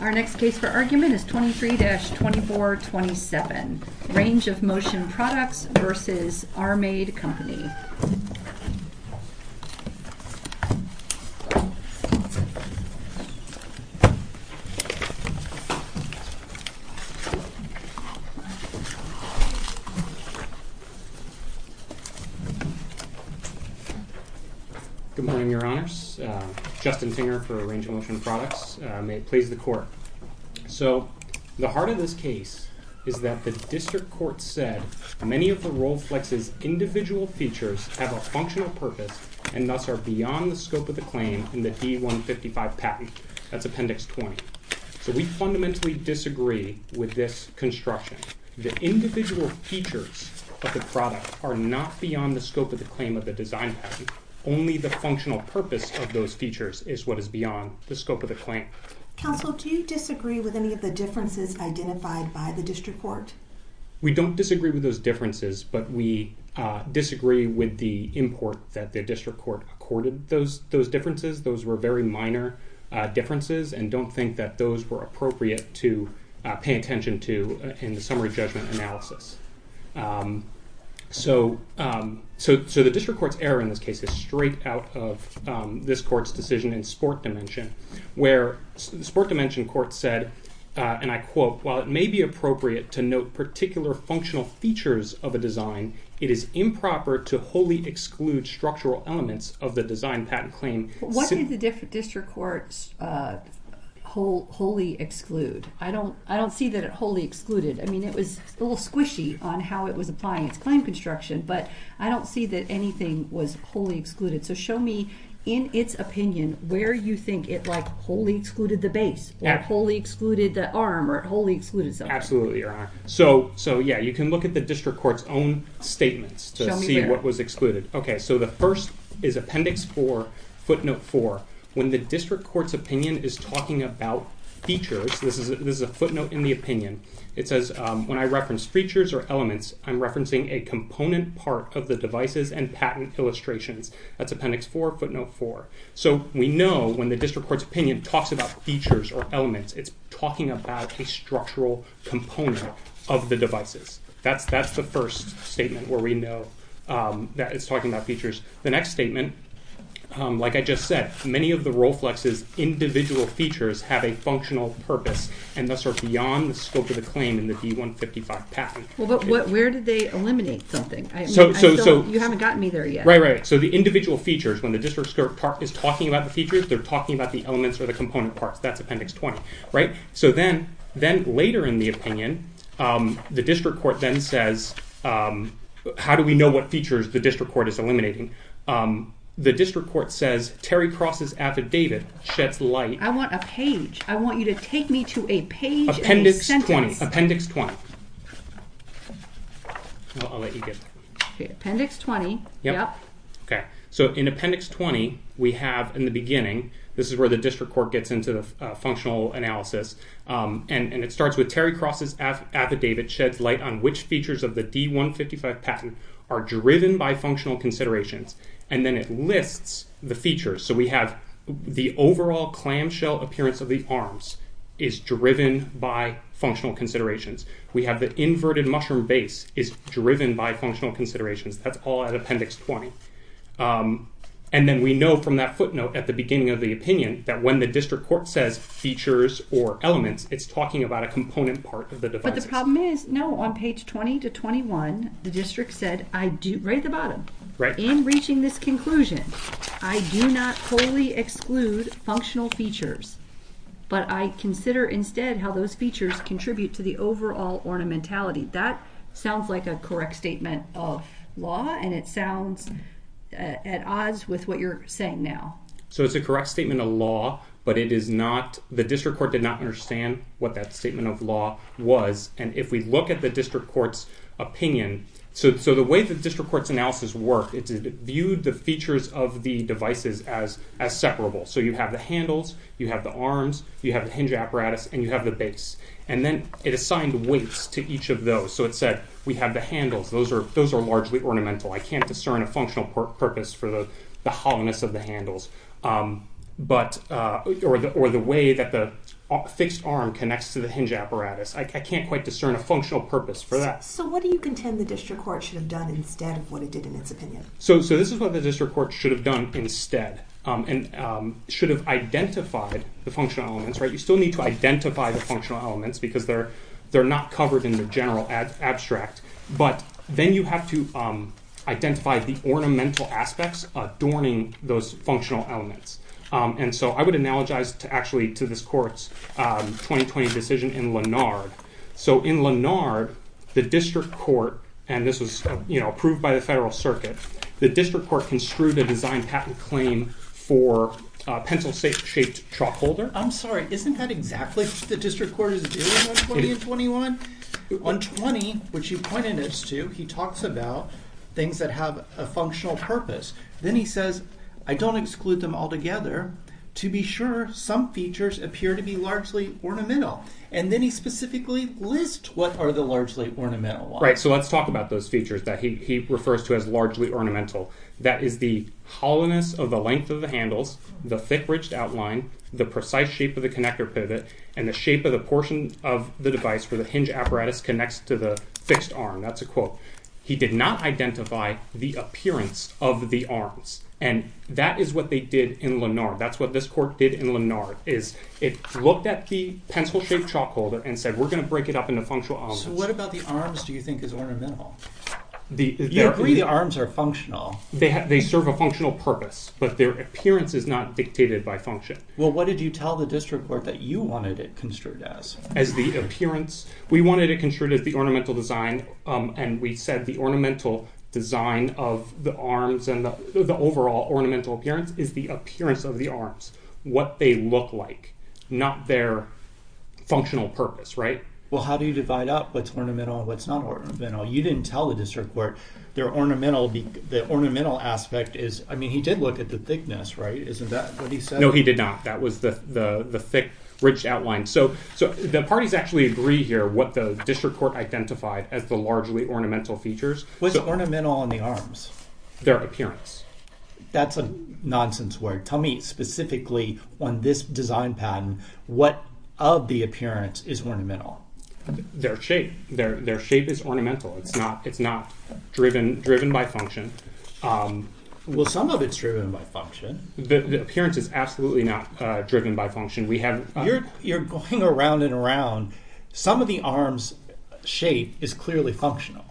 Our next case for argument is 23-2427, Range of Motion Products v. Armaid Company. Good morning, Your Honors. Justin Finger for Range of Motion Products. May it please the Court. So the heart of this case is that the district court said many of the Roll Flex's individual features have a functional purpose and thus are beyond the scope of the claim in the D-155 patent. That's Appendix 20. So we fundamentally disagree with this construction. The individual features of the product are not beyond the scope of the claim of the design patent. Only the functional purpose of those features is what is beyond the scope of the claim. Counsel, do you disagree with any of the differences identified by the district court? We don't disagree with those differences, but we disagree with the import that the district court accorded those differences. Those were very minor differences and don't think that those were appropriate to pay attention to in the summary judgment analysis. So the district court's error in this case is straight out of this court's decision in sport dimension, where the sport dimension court said, and I quote, while it may be appropriate to note particular functional features of a design, it is improper to wholly exclude structural elements of the design patent claim. What did the district court wholly exclude? I don't see that it wholly excluded. I mean, it was a little squishy on how it was applying its claim construction, but I don't see that anything was wholly excluded. So show me in its opinion where you think it wholly excluded the base, or wholly excluded the arm, or wholly excluded something. Absolutely, Your Honor. So yeah, you can look at the district court's own statements to see what was excluded. Okay, so the first is Appendix 4, Footnote 4. When the district court's opinion is talking about features, this is a footnote in the opinion, it says, when I reference features or elements, I'm referencing a component part of the devices and patent illustrations. That's Appendix 4, Footnote 4. So we know when the district court's opinion talks about features or elements, it's talking about a structural component of the devices. That's the first statement where we know that it's talking about features. The next statement, like I just said, many of the Rolflex's individual features have a functional purpose and thus are beyond the scope of the claim in the D-155 patent. Well, but where did they eliminate something? I mean, I still, you haven't gotten me there yet. Right, right. So the individual features, when the district court is talking about the features, they're talking about the elements or the component parts. That's Appendix 20, right? So then, later in the opinion, the district court then says, how do we know what features the district court is eliminating? The district court says, Terry Cross's affidavit sheds light- I want a page. I want you to take me to a page and a sentence. Appendix 20. Appendix 20. I'll let you get that. Okay, Appendix 20. Yep. Yep. Okay. So in Appendix 20, we have, in the beginning, this is where the district court gets into the functional analysis, and it starts with, Terry Cross's affidavit sheds light on which features of the D-155 patent are driven by functional considerations, and then it lists the features. So we have the overall clamshell appearance of the arms is driven by functional considerations. We have the inverted mushroom base is driven by functional considerations. That's all at Appendix 20. And then we know from that footnote at the beginning of the opinion that when the district court says features or elements, it's talking about a component part of the devices. But the problem is, no, on page 20 to 21, the district said, right at the bottom, in reaching this conclusion, I do not wholly exclude functional features, but I consider instead how those features contribute to the overall ornamentality. That sounds like a correct statement of law, and it sounds at odds with what you're saying now. So it's a correct statement of law, but it is not, the district court did not understand what that statement of law was. And if we look at the district court's opinion, so the way the district court's analysis worked, it viewed the features of the devices as separable. So you have the handles, you have the arms, you have the hinge apparatus, and you have the base. And then it assigned weights to each of those. So it said, we have the handles. Those are largely ornamental. I can't discern a functional purpose for the hollowness of the handles, or the way that the fixed arm connects to the hinge apparatus. I can't quite discern a functional purpose for that. So what do you contend the district court should have done instead of what it did in its opinion? So this is what the district court should have done instead, and should have identified the functional elements. You still need to identify the functional elements, because they're not covered in the general abstract. But then you have to identify the ornamental aspects adorning those functional elements. And so I would analogize actually to this court's 2020 decision in Lennard. So in Lennard, the district court, and this was approved by the federal circuit, the district court construed a design patent claim for a pencil-shaped chalk holder. I'm sorry, isn't that exactly what the district court is doing on 20 and 21? On 20, which he pointed us to, he talks about things that have a functional purpose. Then he says, I don't exclude them altogether. To be sure, some features appear to be largely ornamental. And then he specifically lists what are the largely ornamental ones. Right, so let's talk about those features that he refers to as largely ornamental. That is the hollowness of the length of the handles, the thick-ridged outline, the precise shape of the connector pivot, and the shape of the portion of the device where the hinge apparatus connects to the fixed arm. That's a quote. He did not identify the appearance of the arms. And that is what they did in Lennard. That's what this court did in Lennard, is it looked at the pencil-shaped chalk holder and said, we're going to break it up into functional elements. So what about the arms do you think is ornamental? You agree the arms are functional. They serve a functional purpose, but their appearance is not dictated by function. Well, what did you tell the district court that you wanted it construed as? As the appearance. We wanted it construed as the ornamental design, and we said the ornamental design of the arms and the overall ornamental appearance is the appearance of the arms. What they look like. Not their functional purpose, right? Well how do you divide up what's ornamental and what's not ornamental? You didn't tell the district court their ornamental, the ornamental aspect is, I mean he did look at the thickness, right? Isn't that what he said? No, he did not. That was the thick, ridged outline. So the parties actually agree here what the district court identified as the largely ornamental features. What's ornamental on the arms? Their appearance. That's a nonsense word. Tell me specifically on this design pattern, what of the appearance is ornamental? Their shape. Their shape is ornamental. It's not driven by function. Well some of it's driven by function. The appearance is absolutely not driven by function. You're going around and around. Some of the arms' shape is clearly functional.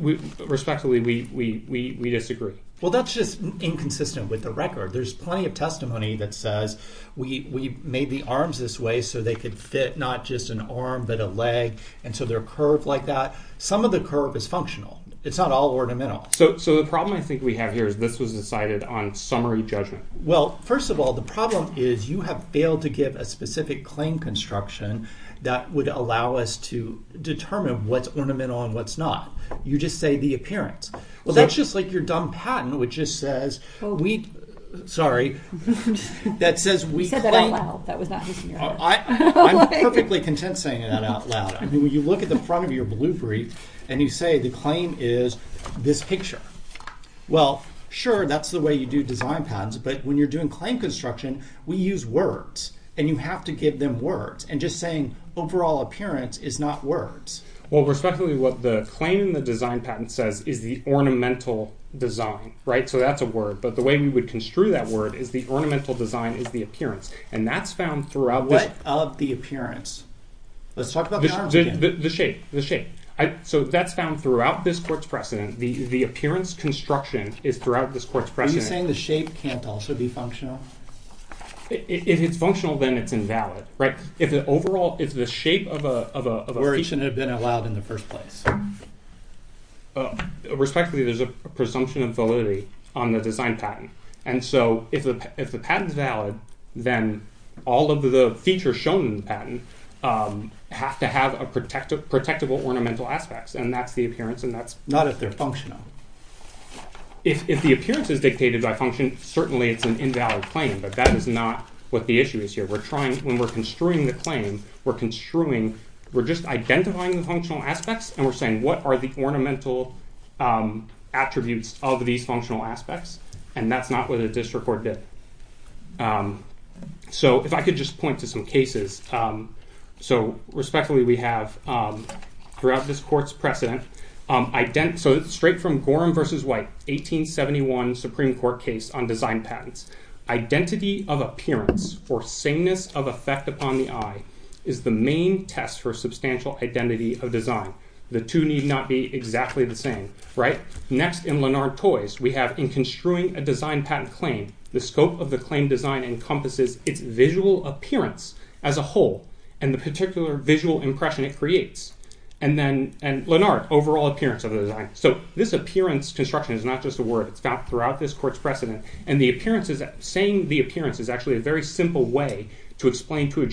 Respectfully, we disagree. Well that's just inconsistent with the record. There's plenty of testimony that says we made the arms this way so they could fit not just an arm but a leg, and so they're curved like that. Some of the curve is functional. It's not all ornamental. So the problem I think we have here is this was decided on summary judgment. Well first of all, the problem is you have failed to give a specific claim construction that would allow us to determine what's ornamental and what's not. You just say the appearance. Well that's just like your dumb patent, which just says we, sorry, that says we claim- You said that out loud. That was not his ear. I'm perfectly content saying that out loud. I mean when you look at the front of your blue brief and you say the claim is this picture. Well sure, that's the way you do design patents, but when you're doing claim construction, we use words, and you have to give them words, and just saying overall appearance is not words. Well respectively, what the claim in the design patent says is the ornamental design, right? So that's a word. But the way we would construe that word is the ornamental design is the appearance, and that's found throughout- What of the appearance? Let's talk about patterns again. The shape. The shape. So that's found throughout this court's precedent. The appearance construction is throughout this court's precedent. Are you saying the shape can't also be functional? If it's functional, then it's invalid, right? If the overall, if the shape of a- Or it shouldn't have been allowed in the first place. Respectively, there's a presumption of validity on the design patent. And so if the patent is valid, then all of the features shown in the patent have to have a protectable ornamental aspects, and that's the appearance, and that's- Not if they're functional. If the appearance is dictated by function, certainly it's an invalid claim, but that is not what the issue is here. We're trying, when we're construing the claim, we're construing, we're just identifying the functional aspects, and we're saying what are the ornamental attributes of these functional aspects, and that's not what the district court did. So if I could just point to some cases. So respectfully, we have throughout this court's precedent, so straight from Gorham v. White, 1871 Supreme Court case on design patents. Identity of appearance or sameness of effect upon the eye is the main test for substantial identity of design. The two need not be exactly the same, right? Next in Lenard-Toys, we have in construing a design patent claim, the scope of the claim design encompasses its visual appearance as a whole, and the particular visual impression it creates. And then, and Lenard, overall appearance of the design. So this appearance construction is not just a word, it's found throughout this court's precedent, and the appearances, saying the appearance is actually a very simple way to explain to a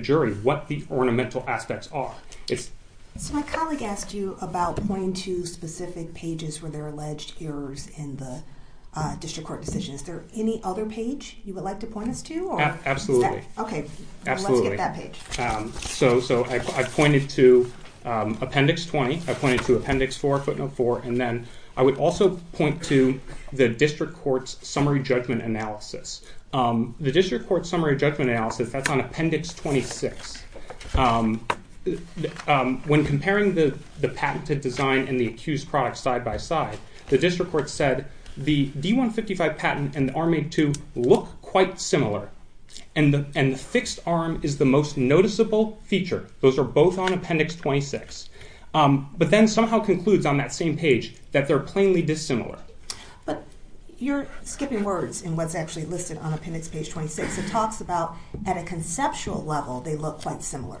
jury what the ornamental aspects are. So my colleague asked you about pointing to specific pages where there are alleged errors in the district court decision. Is there any other page you would like to point us to? Absolutely. Okay. Absolutely. I'd love to get that page. So I pointed to appendix 20, I pointed to appendix 4, footnote 4, and then I would also point to the district court's summary judgment analysis. The district court's summary judgment analysis, that's on appendix 26. When comparing the patented design and the accused product side by side, the district court said the D-155 patent and the Arm A-2 look quite similar, and the fixed arm is the most noticeable feature. Those are both on appendix 26. But then somehow concludes on that same page that they're plainly dissimilar. But you're skipping words in what's actually listed on appendix page 26. It talks about at a conceptual level, they look quite similar.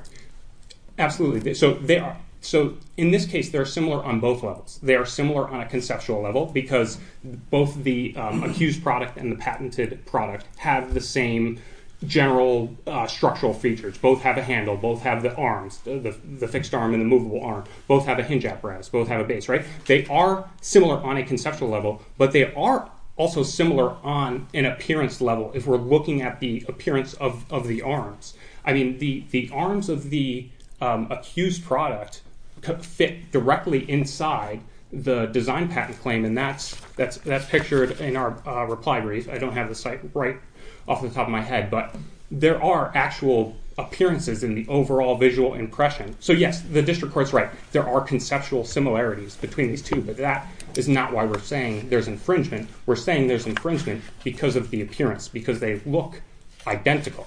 Absolutely. So in this case, they're similar on both levels. They are similar on a conceptual level because both the accused product and the patented product have the same general structural features. Both have a handle, both have the arms, the fixed arm and the movable arm. Both have a hinge apparatus, both have a base, right? They are similar on a conceptual level, but they are also similar on an appearance level if we're looking at the appearance of the arms. I mean, the arms of the accused product could fit directly inside the design patent claim, and that's pictured in our reply brief. I don't have the site right off the top of my head, but there are actual appearances in the overall visual impression. So yes, the district court's right. There are conceptual similarities between these two, but that is not why we're saying there's infringement. We're saying there's infringement because of the appearance, because they look identical.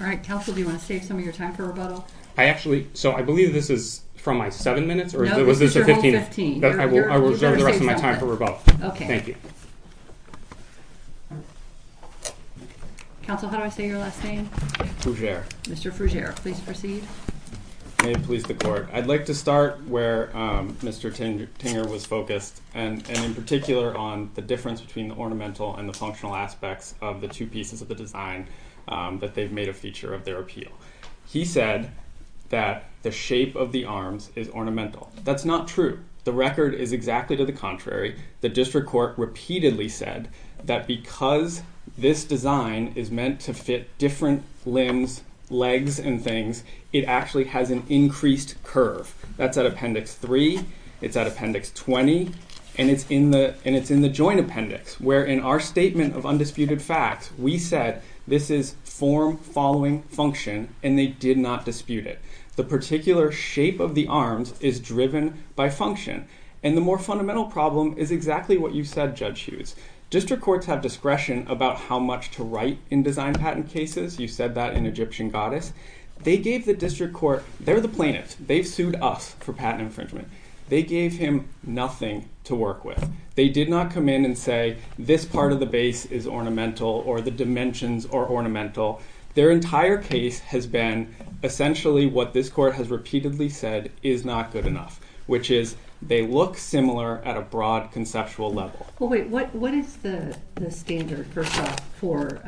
All right, counsel, do you want to save some of your time for rebuttal? I actually, so I believe this is from my seven minutes or was this a 15? I will reserve the rest of my time for rebuttal. Okay. Thank you. Counsel, how do I say your last name? Fougere. Mr. Fougere, please proceed. May it please the court. I'd like to start where Mr. Tinger was focused, and in particular on the difference between the ornamental and the functional aspects of the two pieces of the design that they've made a feature of their appeal. He said that the shape of the arms is ornamental. That's not true. The record is exactly to the contrary. The district court repeatedly said that because this design is meant to fit different limbs, legs, and things, it actually has an increased curve. That's at appendix three. It's at appendix 20, and it's in the joint appendix, where in our statement of undisputed facts we said this is form following function, and they did not dispute it. The particular shape of the arms is driven by function, and the more fundamental problem is exactly what you said, Judge Hughes. District courts have discretion about how much to write in design patent cases. You said that in Egyptian Goddess. They gave the district court, they're the plaintiffs. They've sued us for patent infringement. They gave him nothing to work with. They did not come in and say this part of the base is ornamental, or the dimensions are ornamental. Their entire case has been essentially what this court has repeatedly said is not good enough, which is they look similar at a broad conceptual level. Wait, what is the standard, first off, for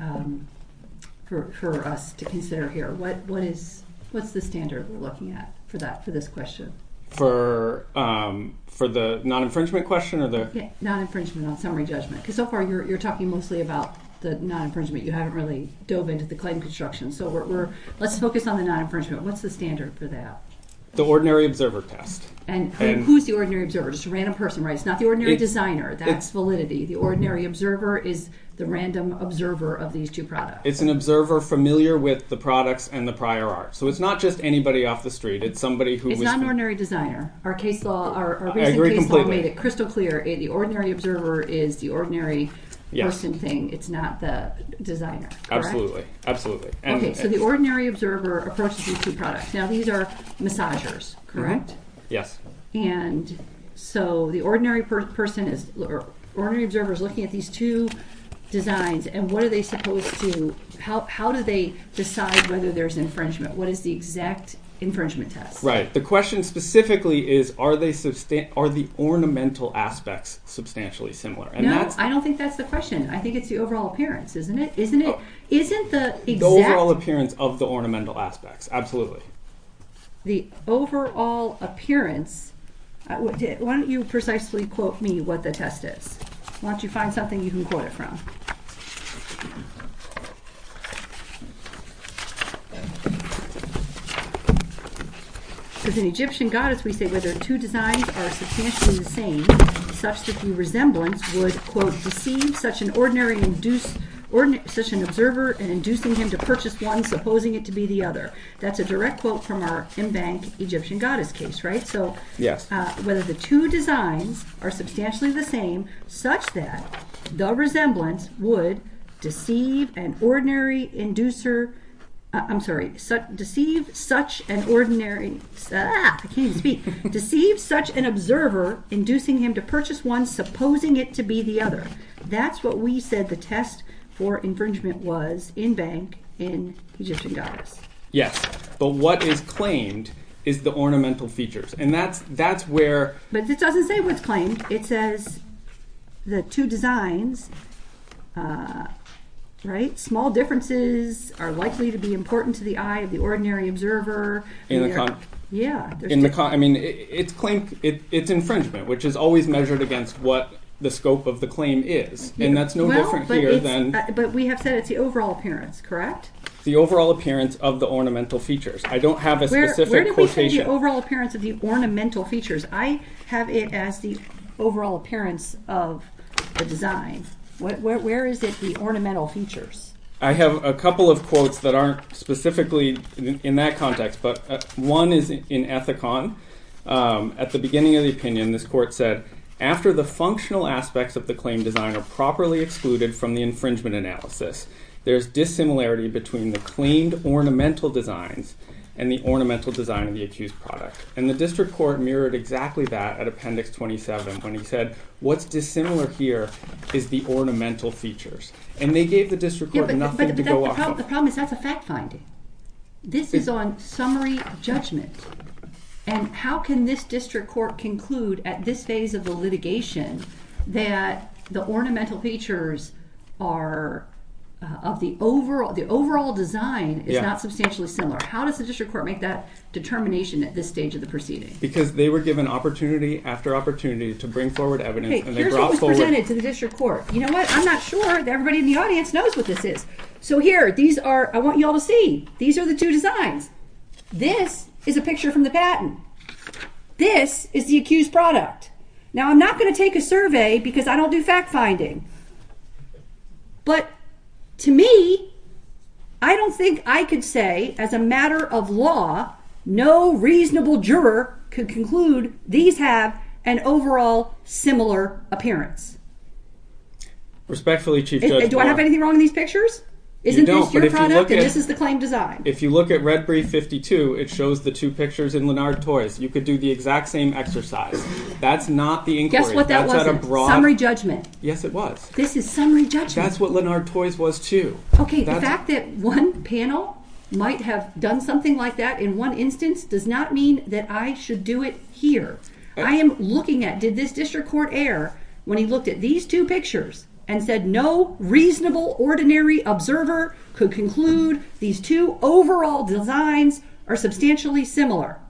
us to consider here? What is the standard we're looking at for this question? For the non-infringement question or the... Yeah, non-infringement on summary judgment, because so far you're talking mostly about the non-infringement. You haven't really dove into the claim construction, so let's focus on the non-infringement. What's the standard for that? The ordinary observer test. And who's the ordinary observer? Just a random person, right? It's not the ordinary designer. That's validity. The ordinary observer is the random observer of these two products. It's an observer familiar with the products and the prior art. So it's not just anybody off the street. It's somebody who... It's not an ordinary designer. Our recent case law made it crystal clear. The ordinary observer is the ordinary person thing. It's not the designer. Correct? Okay, so the ordinary observer approaches these two products. Now these are massagers, correct? Yes. And so the ordinary person or ordinary observer is looking at these two designs, and what are they supposed to... How do they decide whether there's infringement? What is the exact infringement test? Right. The question specifically is, are the ornamental aspects substantially similar? No, I don't think that's the question. I think it's the overall appearance, isn't it? Isn't the exact... The overall appearance of the ornamental aspects, absolutely. The overall appearance... Why don't you precisely quote me what the test is? Why don't you find something you can quote it from? Because an Egyptian goddess, we say, whether two designs are substantially the same, such that the resemblance would, quote, deceive such an ordinary... Such an observer and inducing him to purchase one, supposing it to be the other. That's a direct quote from our in-bank Egyptian goddess case, right? Yes. Whether the two designs are substantially the same, such that the resemblance would deceive an ordinary inducer... I'm sorry. Deceive such an ordinary... I can't even speak. Deceive such an observer, inducing him to purchase one, supposing it to be the other. That's what we said the test for infringement was, in-bank, in Egyptian goddess. Yes, but what is claimed is the ornamental features, and that's where... But it doesn't say what's claimed. It says the two designs, right? Small differences are likely to be important to the eye of the ordinary observer. In the... Yeah. In the... I mean, it's infringement, which is always measured against what the scope of the claim is, and that's no different here than... Well, but we have said it's the overall appearance, correct? The overall appearance of the ornamental features. I don't have a specific quotation. Where do we say the overall appearance of the ornamental features? I have it as the overall appearance of the design. Where is it the ornamental features? I have a couple of quotes that aren't specifically in that context, but one is in Ethicon. At the beginning of the opinion, this court said, after the functional aspects of the claim design are properly excluded from the infringement analysis, there's dissimilarity between the claimed ornamental designs and the ornamental design of the accused product. And the district court mirrored exactly that at Appendix 27 when he said, what's dissimilar here is the ornamental features. And they gave the district court nothing to go off of. Yeah, but the problem is that's a fact finding. This is on summary judgment. And how can this district court conclude at this phase of the litigation that the ornamental features of the overall design is not substantially similar? How does the district court make that determination at this stage of the proceeding? Because they were given opportunity after opportunity to bring forward evidence. Here's what was presented to the district court. You know what? I'm not sure that everybody in the audience knows what this is. So here, I want you all to see. These are the two designs. This is a picture from the patent. This is the accused product. Now, I'm not going to take a survey because I don't do fact finding. But, to me, I don't think I could say, as a matter of law, no reasonable juror could conclude these have an overall similar appearance. Respectfully, Chief Judge. Do I have anything wrong in these pictures? You don't. Isn't this your product and this is the claimed design? If you look at Red Brief 52, it shows the two pictures in Lennard Toys. You could do the exact same exercise. That's not the inquiry. Guess what that was? Summary judgment. Yes, it was. This is summary judgment. That's what Lennard Toys was, too. Okay. The fact that one panel might have done something like that in one instance does not mean that I should do it here. I am looking at, did this district court err when he looked at these two pictures and said no reasonable, ordinary observer could conclude these two overall designs are substantially similar?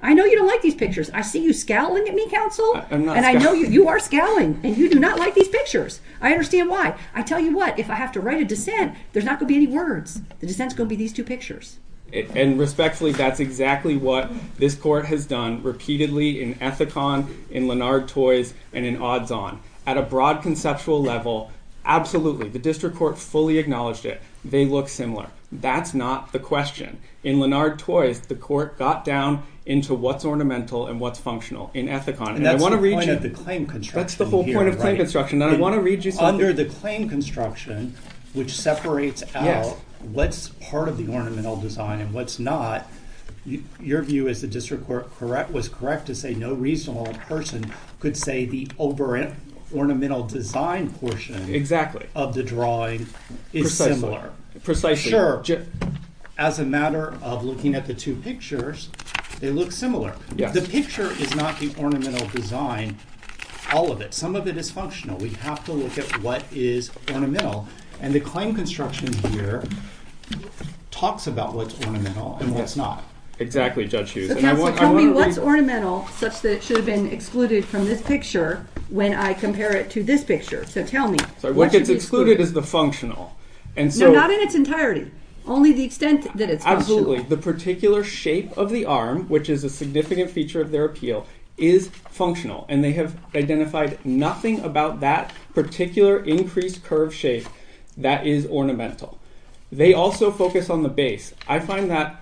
I know you don't like these pictures. I see you scowling at me, counsel. I'm not scowling. And I know you are scowling. And you do not like these pictures. I understand why. I tell you what, if I have to write a dissent, there's not going to be any words. The dissent's going to be these two pictures. And respectfully, that's exactly what this court has done repeatedly in Ethicon, in Lennard Toys, and in Odds On. At a broad conceptual level, absolutely. The district court fully acknowledged it. They look similar. That's not the question. In Lennard Toys, the court got down into what's ornamental and what's functional in Ethicon. And I want to read you. And that's the point of the claim construction here. That's the whole point of claim construction. And I want to read you something. Under the claim construction, which separates out what's part of the ornamental design and what's not, your view is the district court was correct to say no reasonable person could say the over-ornamental design portion of the drawing is similar. Precisely. Sure. As a matter of looking at the two pictures, they look similar. The picture is not the ornamental design, all of it. Some of it is functional. We have to look at what is ornamental. And the claim construction here talks about what's ornamental and what's not. Exactly, Judge Hughes. So counsel, tell me what's ornamental such that it should have been excluded from this picture when I compare it to this picture. So tell me. What gets excluded is the functional. No, not in its entirety. Only the extent that it's functional. The particular shape of the arm, which is a significant feature of their appeal, is functional. And they have identified nothing about that particular increased curve shape that is ornamental. They also focus on the base. I find that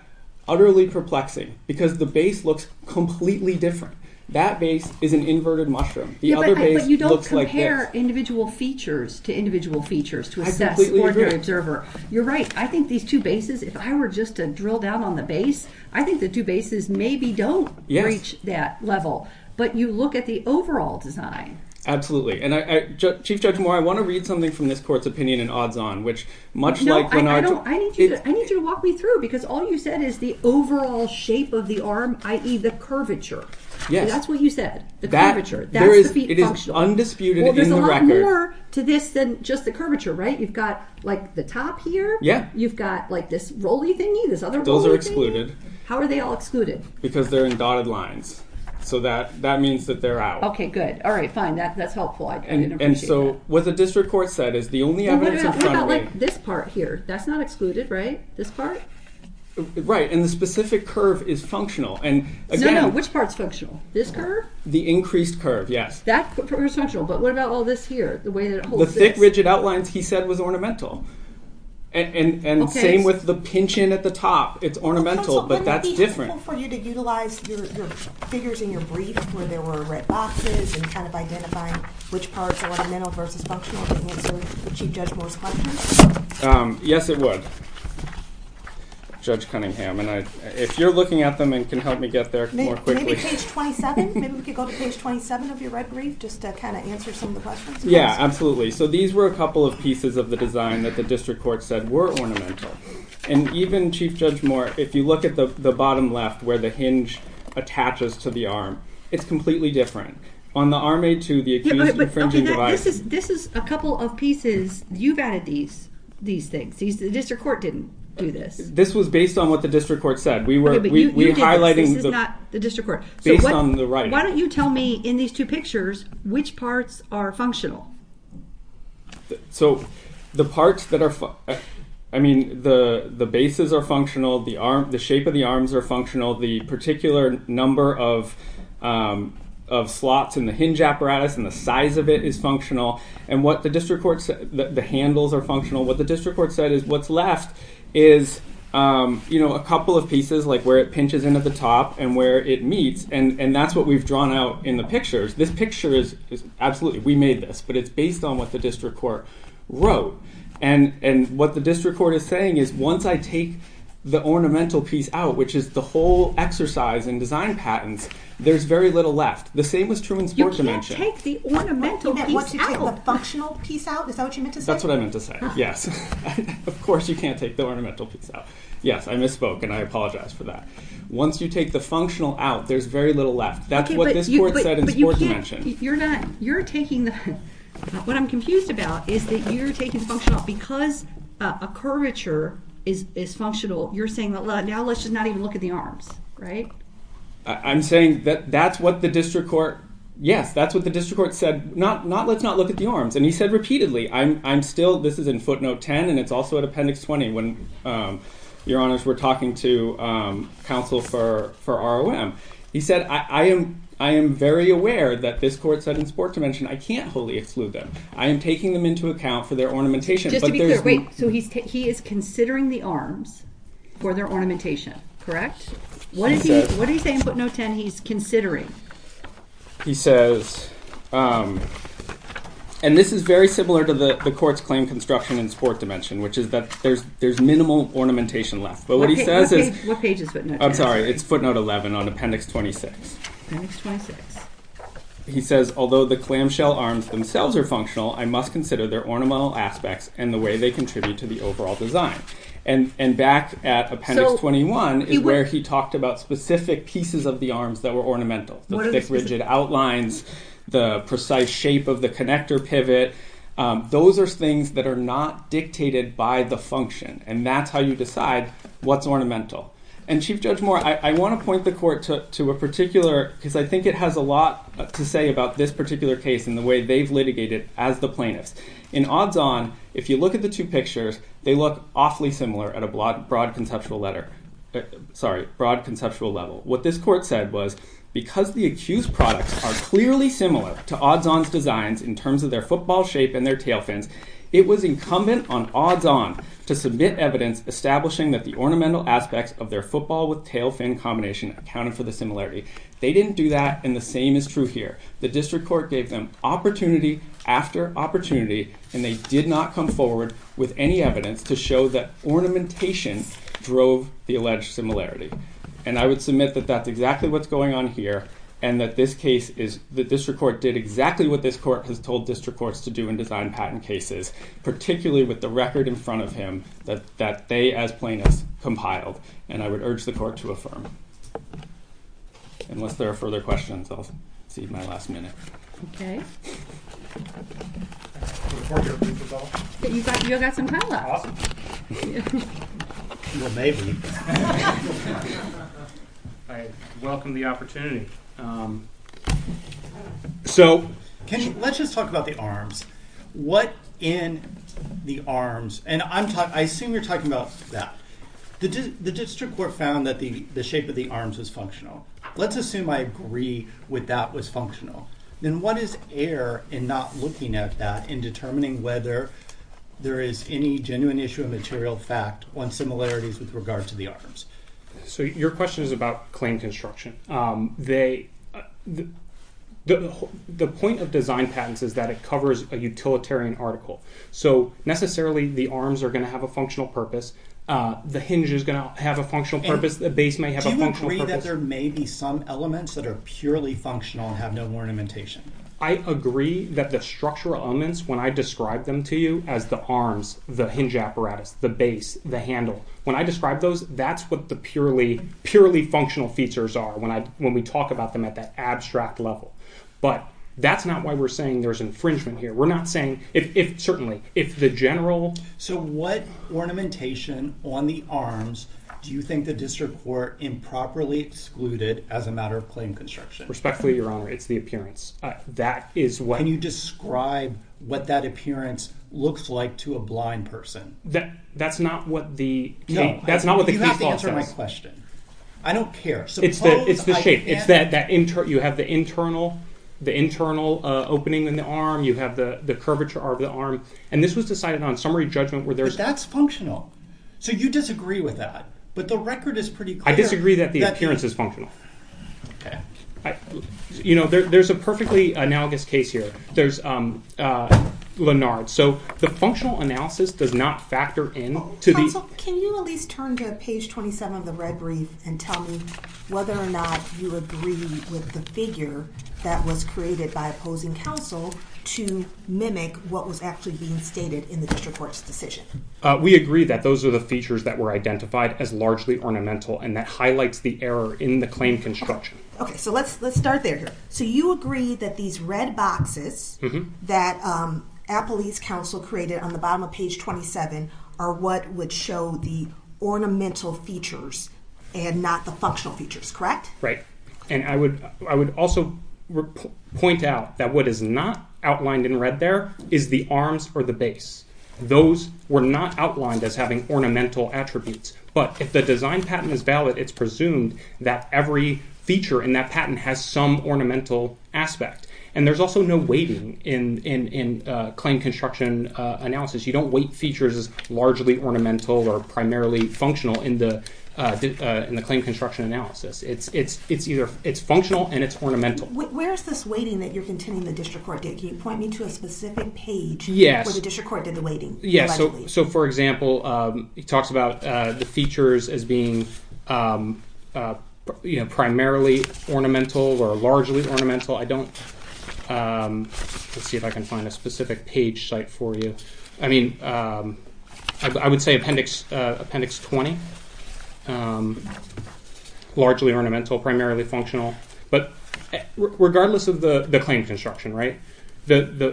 utterly perplexing because the base looks completely different. That base is an inverted mushroom. The other base looks like this. But you don't compare individual features to individual features to assess ordinary observer. You're right. I think these two bases, if I were just to drill down on the base, I think the two bases maybe don't reach that level. But you look at the overall design. And Chief Judge Moore, I want to read something from this court's opinion in odds-on, which much like Lennart... No, I need you to walk me through because all you said is the overall shape of the arm, i.e. the curvature. Yes. That's what you said. The curvature. That's the feet functional. It is undisputed in the record. Well, there's a lot more to this than just the curvature, right? You've got the top here. Yeah. You've got this roll-y thingy, this other roll-y thingy. Those are excluded. How are they all excluded? Because they're in dotted lines, so that means that they're out. Okay, good. All right, fine. That's helpful. And so what the district court said is the only evidence of front weight... What about this part here? That's not excluded, right? This part? Right. And the specific curve is functional. And again... No, no. Which part's functional? This curve? The increased curve, yes. That curve is functional. But what about all this here? The way that it holds... The thick, rigid outlines he said was ornamental. And same with the pinch-in at the top. It's ornamental, but that's different. So wouldn't it be helpful for you to utilize your figures in your brief where there were red boxes and kind of identifying which parts are ornamental versus functional to answer Chief Judge Moore's questions? Yes, it would, Judge Cunningham. And if you're looking at them and can help me get there more quickly... Maybe page 27? Maybe we could go to page 27 of your red brief just to kind of answer some of the questions? Yeah, absolutely. So these were a couple of pieces of the design that the district court said were ornamental. And even, Chief Judge Moore, if you look at the bottom left where the hinge attaches to the arm, it's completely different. On the Arm A2, the accused infringing device... Okay, this is a couple of pieces. You've added these things. The district court didn't do this. This was based on what the district court said. We were highlighting... This is not the district court. Based on the right. Why don't you tell me, in these two pictures, which parts are functional? So, the parts that are... I mean, the bases are functional. The shape of the arms are functional. The particular number of slots in the hinge apparatus and the size of it is functional. And what the district court said... The handles are functional. What the district court said is what's left is a couple of pieces, like where it pinches into the top and where it meets. And that's what we've drawn out in the pictures. This picture is... Absolutely, we made this. But it's based on what the district court wrote. And what the district court is saying is, once I take the ornamental piece out, which is the whole exercise in design patents, there's very little left. The same was true in sport dimension. You can't take the ornamental piece out. You meant once you take the functional piece out? Is that what you meant to say? That's what I meant to say, yes. Of course you can't take the ornamental piece out. Yes, I misspoke and I apologize for that. Once you take the functional out, there's very little left. That's what this court said in sport dimension. But you can't... You're not... You're taking the... What I'm confused about is that you're taking the functional... Because a curvature is functional, you're saying that now let's just not even look at the arms, right? I'm saying that that's what the district court... Yes, that's what the district court said. Not, let's not look at the arms. And he said repeatedly. I'm still... This is in footnote 10 and it's also in appendix 20. Your honors, we're talking to counsel for ROM. He said, I am very aware that this court said in sport dimension, I can't wholly exclude them. I am taking them into account for their ornamentation. Just to be clear, wait. So he is considering the arms for their ornamentation, correct? What did he say in footnote 10 he's considering? He says, and this is very similar to the court's claim construction in sport dimension, which is that there's minimal ornamentation left. But what he says is... What page is footnote 10? I'm sorry. It's footnote 11 on appendix 26. Appendix 26. He says, although the clamshell arms themselves are functional, I must consider their ornamental aspects and the way they contribute to the overall design. And back at appendix 21 is where he talked about specific pieces of the arms that were ornamental. The thick rigid outlines, the precise shape of the connector pivot. Those are things that are not dictated by the function. And that's how you decide what's ornamental. And Chief Judge Moore, I want to point the court to a particular... Because I think it has a lot to say about this particular case and the way they've litigated as the plaintiffs. In odds on, if you look at the two pictures, they look awfully similar at a broad conceptual letter. Sorry, broad conceptual level. What this court said was, because the accused products are clearly similar to odds on designs in terms of their football shape and their tail fins, it was incumbent on odds on to submit evidence establishing that the ornamental aspects of their football with tail fin combination accounted for the similarity. They didn't do that, and the same is true here. The district court gave them opportunity after opportunity, and they did not come forward with any evidence to show that ornamentation drove the alleged similarity. And I would submit that that's exactly what's going on here, and that this case is... The district court did exactly what this court has told district courts to do in design patent cases, particularly with the record in front of him that they, as plaintiffs, compiled. And I would urge the court to affirm. Unless there are further questions, I'll cede my last minute. Okay. You got some time left. Well, maybe. I welcome the opportunity. So... Can you... Let's just talk about the arms. What in the arms... And I assume you're talking about that. The district court found that the shape of the arms was functional. Let's assume I agree with that was functional. Then what is error in not looking at that and determining whether there is any genuine issue of material fact on similarities with regard to the arms? So your question is about claim construction. The point of design patents is that it covers a utilitarian article. So necessarily, the arms are going to have a functional purpose. The hinge is going to have a functional purpose. The base may have a functional purpose. Do you agree that there may be some elements that are purely functional and have no ornamentation? I agree that the structural elements, when I describe them to you as the arms, the hinge apparatus, the base, the handle, when I describe those, that's what the purely functional features are when we talk about them at that abstract level. But that's not why we're saying there's infringement here. We're not saying... Certainly, if the general... So what ornamentation on the arms do you think the district court improperly excluded as a matter of claim construction? Respectfully, Your Honor, it's the appearance. That is what... Can you describe what that appearance looks like to a blind person? That's not what the case law says. You have to answer my question. I don't care. It's the shape. You have the internal opening in the arm. You have the curvature of the arm. And this was decided on summary judgment where there's... But that's functional. So you disagree with that. But the record is pretty clear... I disagree that the appearance is functional. You know, there's a perfectly analogous case here. There's Lennard. So the functional analysis does not factor in to the... Can you at least turn to page 27 of the red brief and tell me whether or not you agree with the figure that was created by opposing counsel to mimic what was actually being stated in the district court's decision? We agree that those are the features that were identified as largely ornamental and that highlights the error in the claim construction. Okay. So let's start there here. So you agree that these red boxes that Appalache's counsel created on the bottom of page 27 are what would show the ornamental features and not the functional features, correct? Right. And I would also point out that what is not outlined in red there is the arms or the base. Those were not outlined as having ornamental attributes. But if the design patent is valid, it's presumed that every feature in that patent has some ornamental aspect. And there's also no weighting in claim construction analysis. You don't weight features as largely ornamental or primarily functional in the claim construction analysis. It's functional and it's ornamental. Where is this weighting that you're contending the district court did? Can you point me to a specific page where the district court did the weighting? Yes. So for example, it talks about the features as being primarily ornamental or largely ornamental. I don't... Let's see if I can find a specific page site for you. I mean, I would say appendix 20, largely ornamental, primarily functional. But regardless of the claim construction, right, there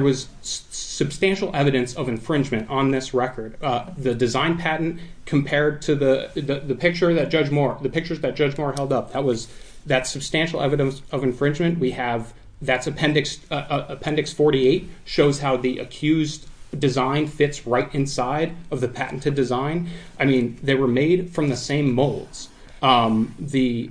was substantial evidence of infringement on this record. The design patent compared to the picture that Judge Moore... The pictures that Judge Moore held up, that was... That's substantial evidence of infringement. We have... That's appendix 48, shows how the accused design fits right inside of the patented design. I mean, they were made from the same molds. The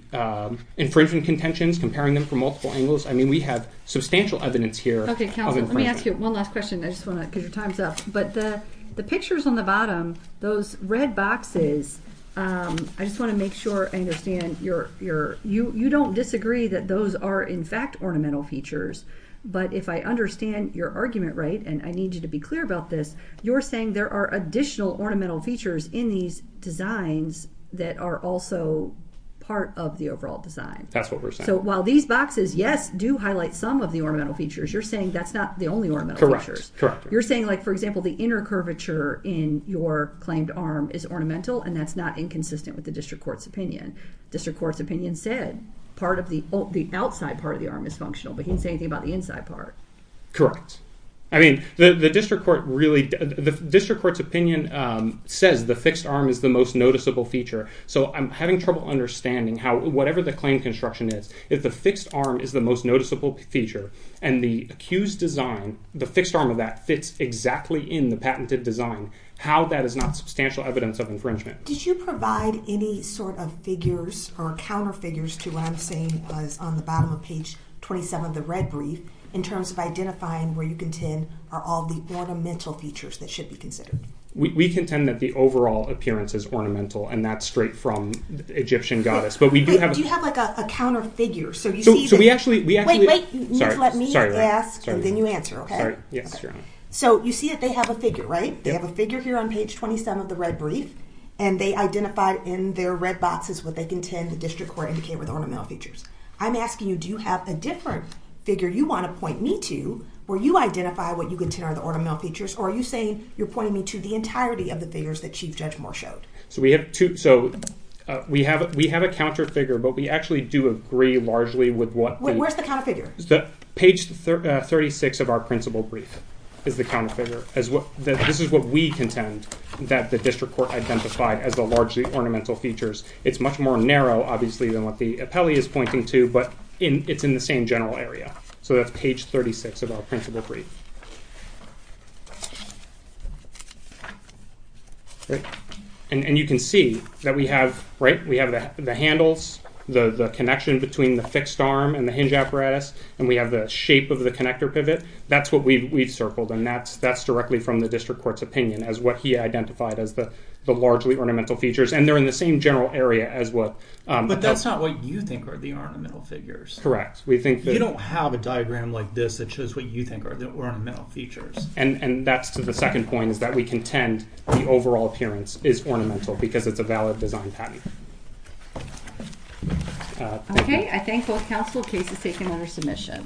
infringement contentions, comparing them from multiple angles. I mean, we have substantial evidence here. Okay, counsel, let me ask you one last question. I just want to... Because your time's up. But the pictures on the bottom, those red boxes, I just want to make sure I understand you don't disagree that those are in fact ornamental features. But if I understand your argument right, and I need you to be clear about this, you're saying there are additional ornamental features in these designs that are also part of the overall design. That's what we're saying. So while these boxes, yes, do highlight some of the ornamental features, you're saying that's not the only ornamental features. You're saying like, for example, the inner curvature in your claimed arm is ornamental and that's not inconsistent with the district court's opinion. District court's opinion said the outside part of the arm is functional, but he didn't say anything about the inside part. I mean, the district court's opinion says the fixed arm is the most noticeable feature. So I'm having trouble understanding how whatever the claim construction is, if the fixed arm is the most noticeable feature and the accused design, the fixed arm of that fits exactly in the patented design, how that is not substantial evidence of infringement. Did you provide any sort of figures or counter figures to what I'm saying is on the bottom of page 27 of the red brief in terms of identifying where you contend are all the ornamental features that should be considered? We contend that the overall appearance is ornamental and that's straight from Egyptian goddess, but we do have... Wait, do you have like a counter figure so you see... So we actually... Wait, wait, let me ask and then you answer, okay? So you see that they have a figure, right? They have a figure here on page 27 of the red brief and they identified in their red boxes what they contend the district court indicated were the ornamental features. I'm asking you, do you have a different figure you want to point me to where you identify what you contend are the ornamental features or are you saying you're pointing me to the entirety of the figures that Chief Judge Moore showed? So we have a counter figure, but we actually do agree largely with what... Where's the counter figure? Page 36 of our principal brief is the counter figure. This is what we contend that the district court identified as the largely ornamental features. It's much more narrow, obviously, than what the appellee is pointing to, but it's in the same general area. So that's page 36 of our principal brief. And you can see that we have the handles, the connection between the fixed arm and the hinge apparatus, and we have the shape of the connector pivot. That's what we've circled, and that's directly from the district court's opinion as what he identified as the largely ornamental features, and they're in the same general area as what... But that's not what you think are the ornamental figures. Correct. We think that... You don't have a diagram like this that shows what you think are the ornamental features. And that's to the second point, is that we contend the overall appearance is ornamental because it's a valid design patent. Okay, I thank both counsel. Case is taken under submission. Thank you.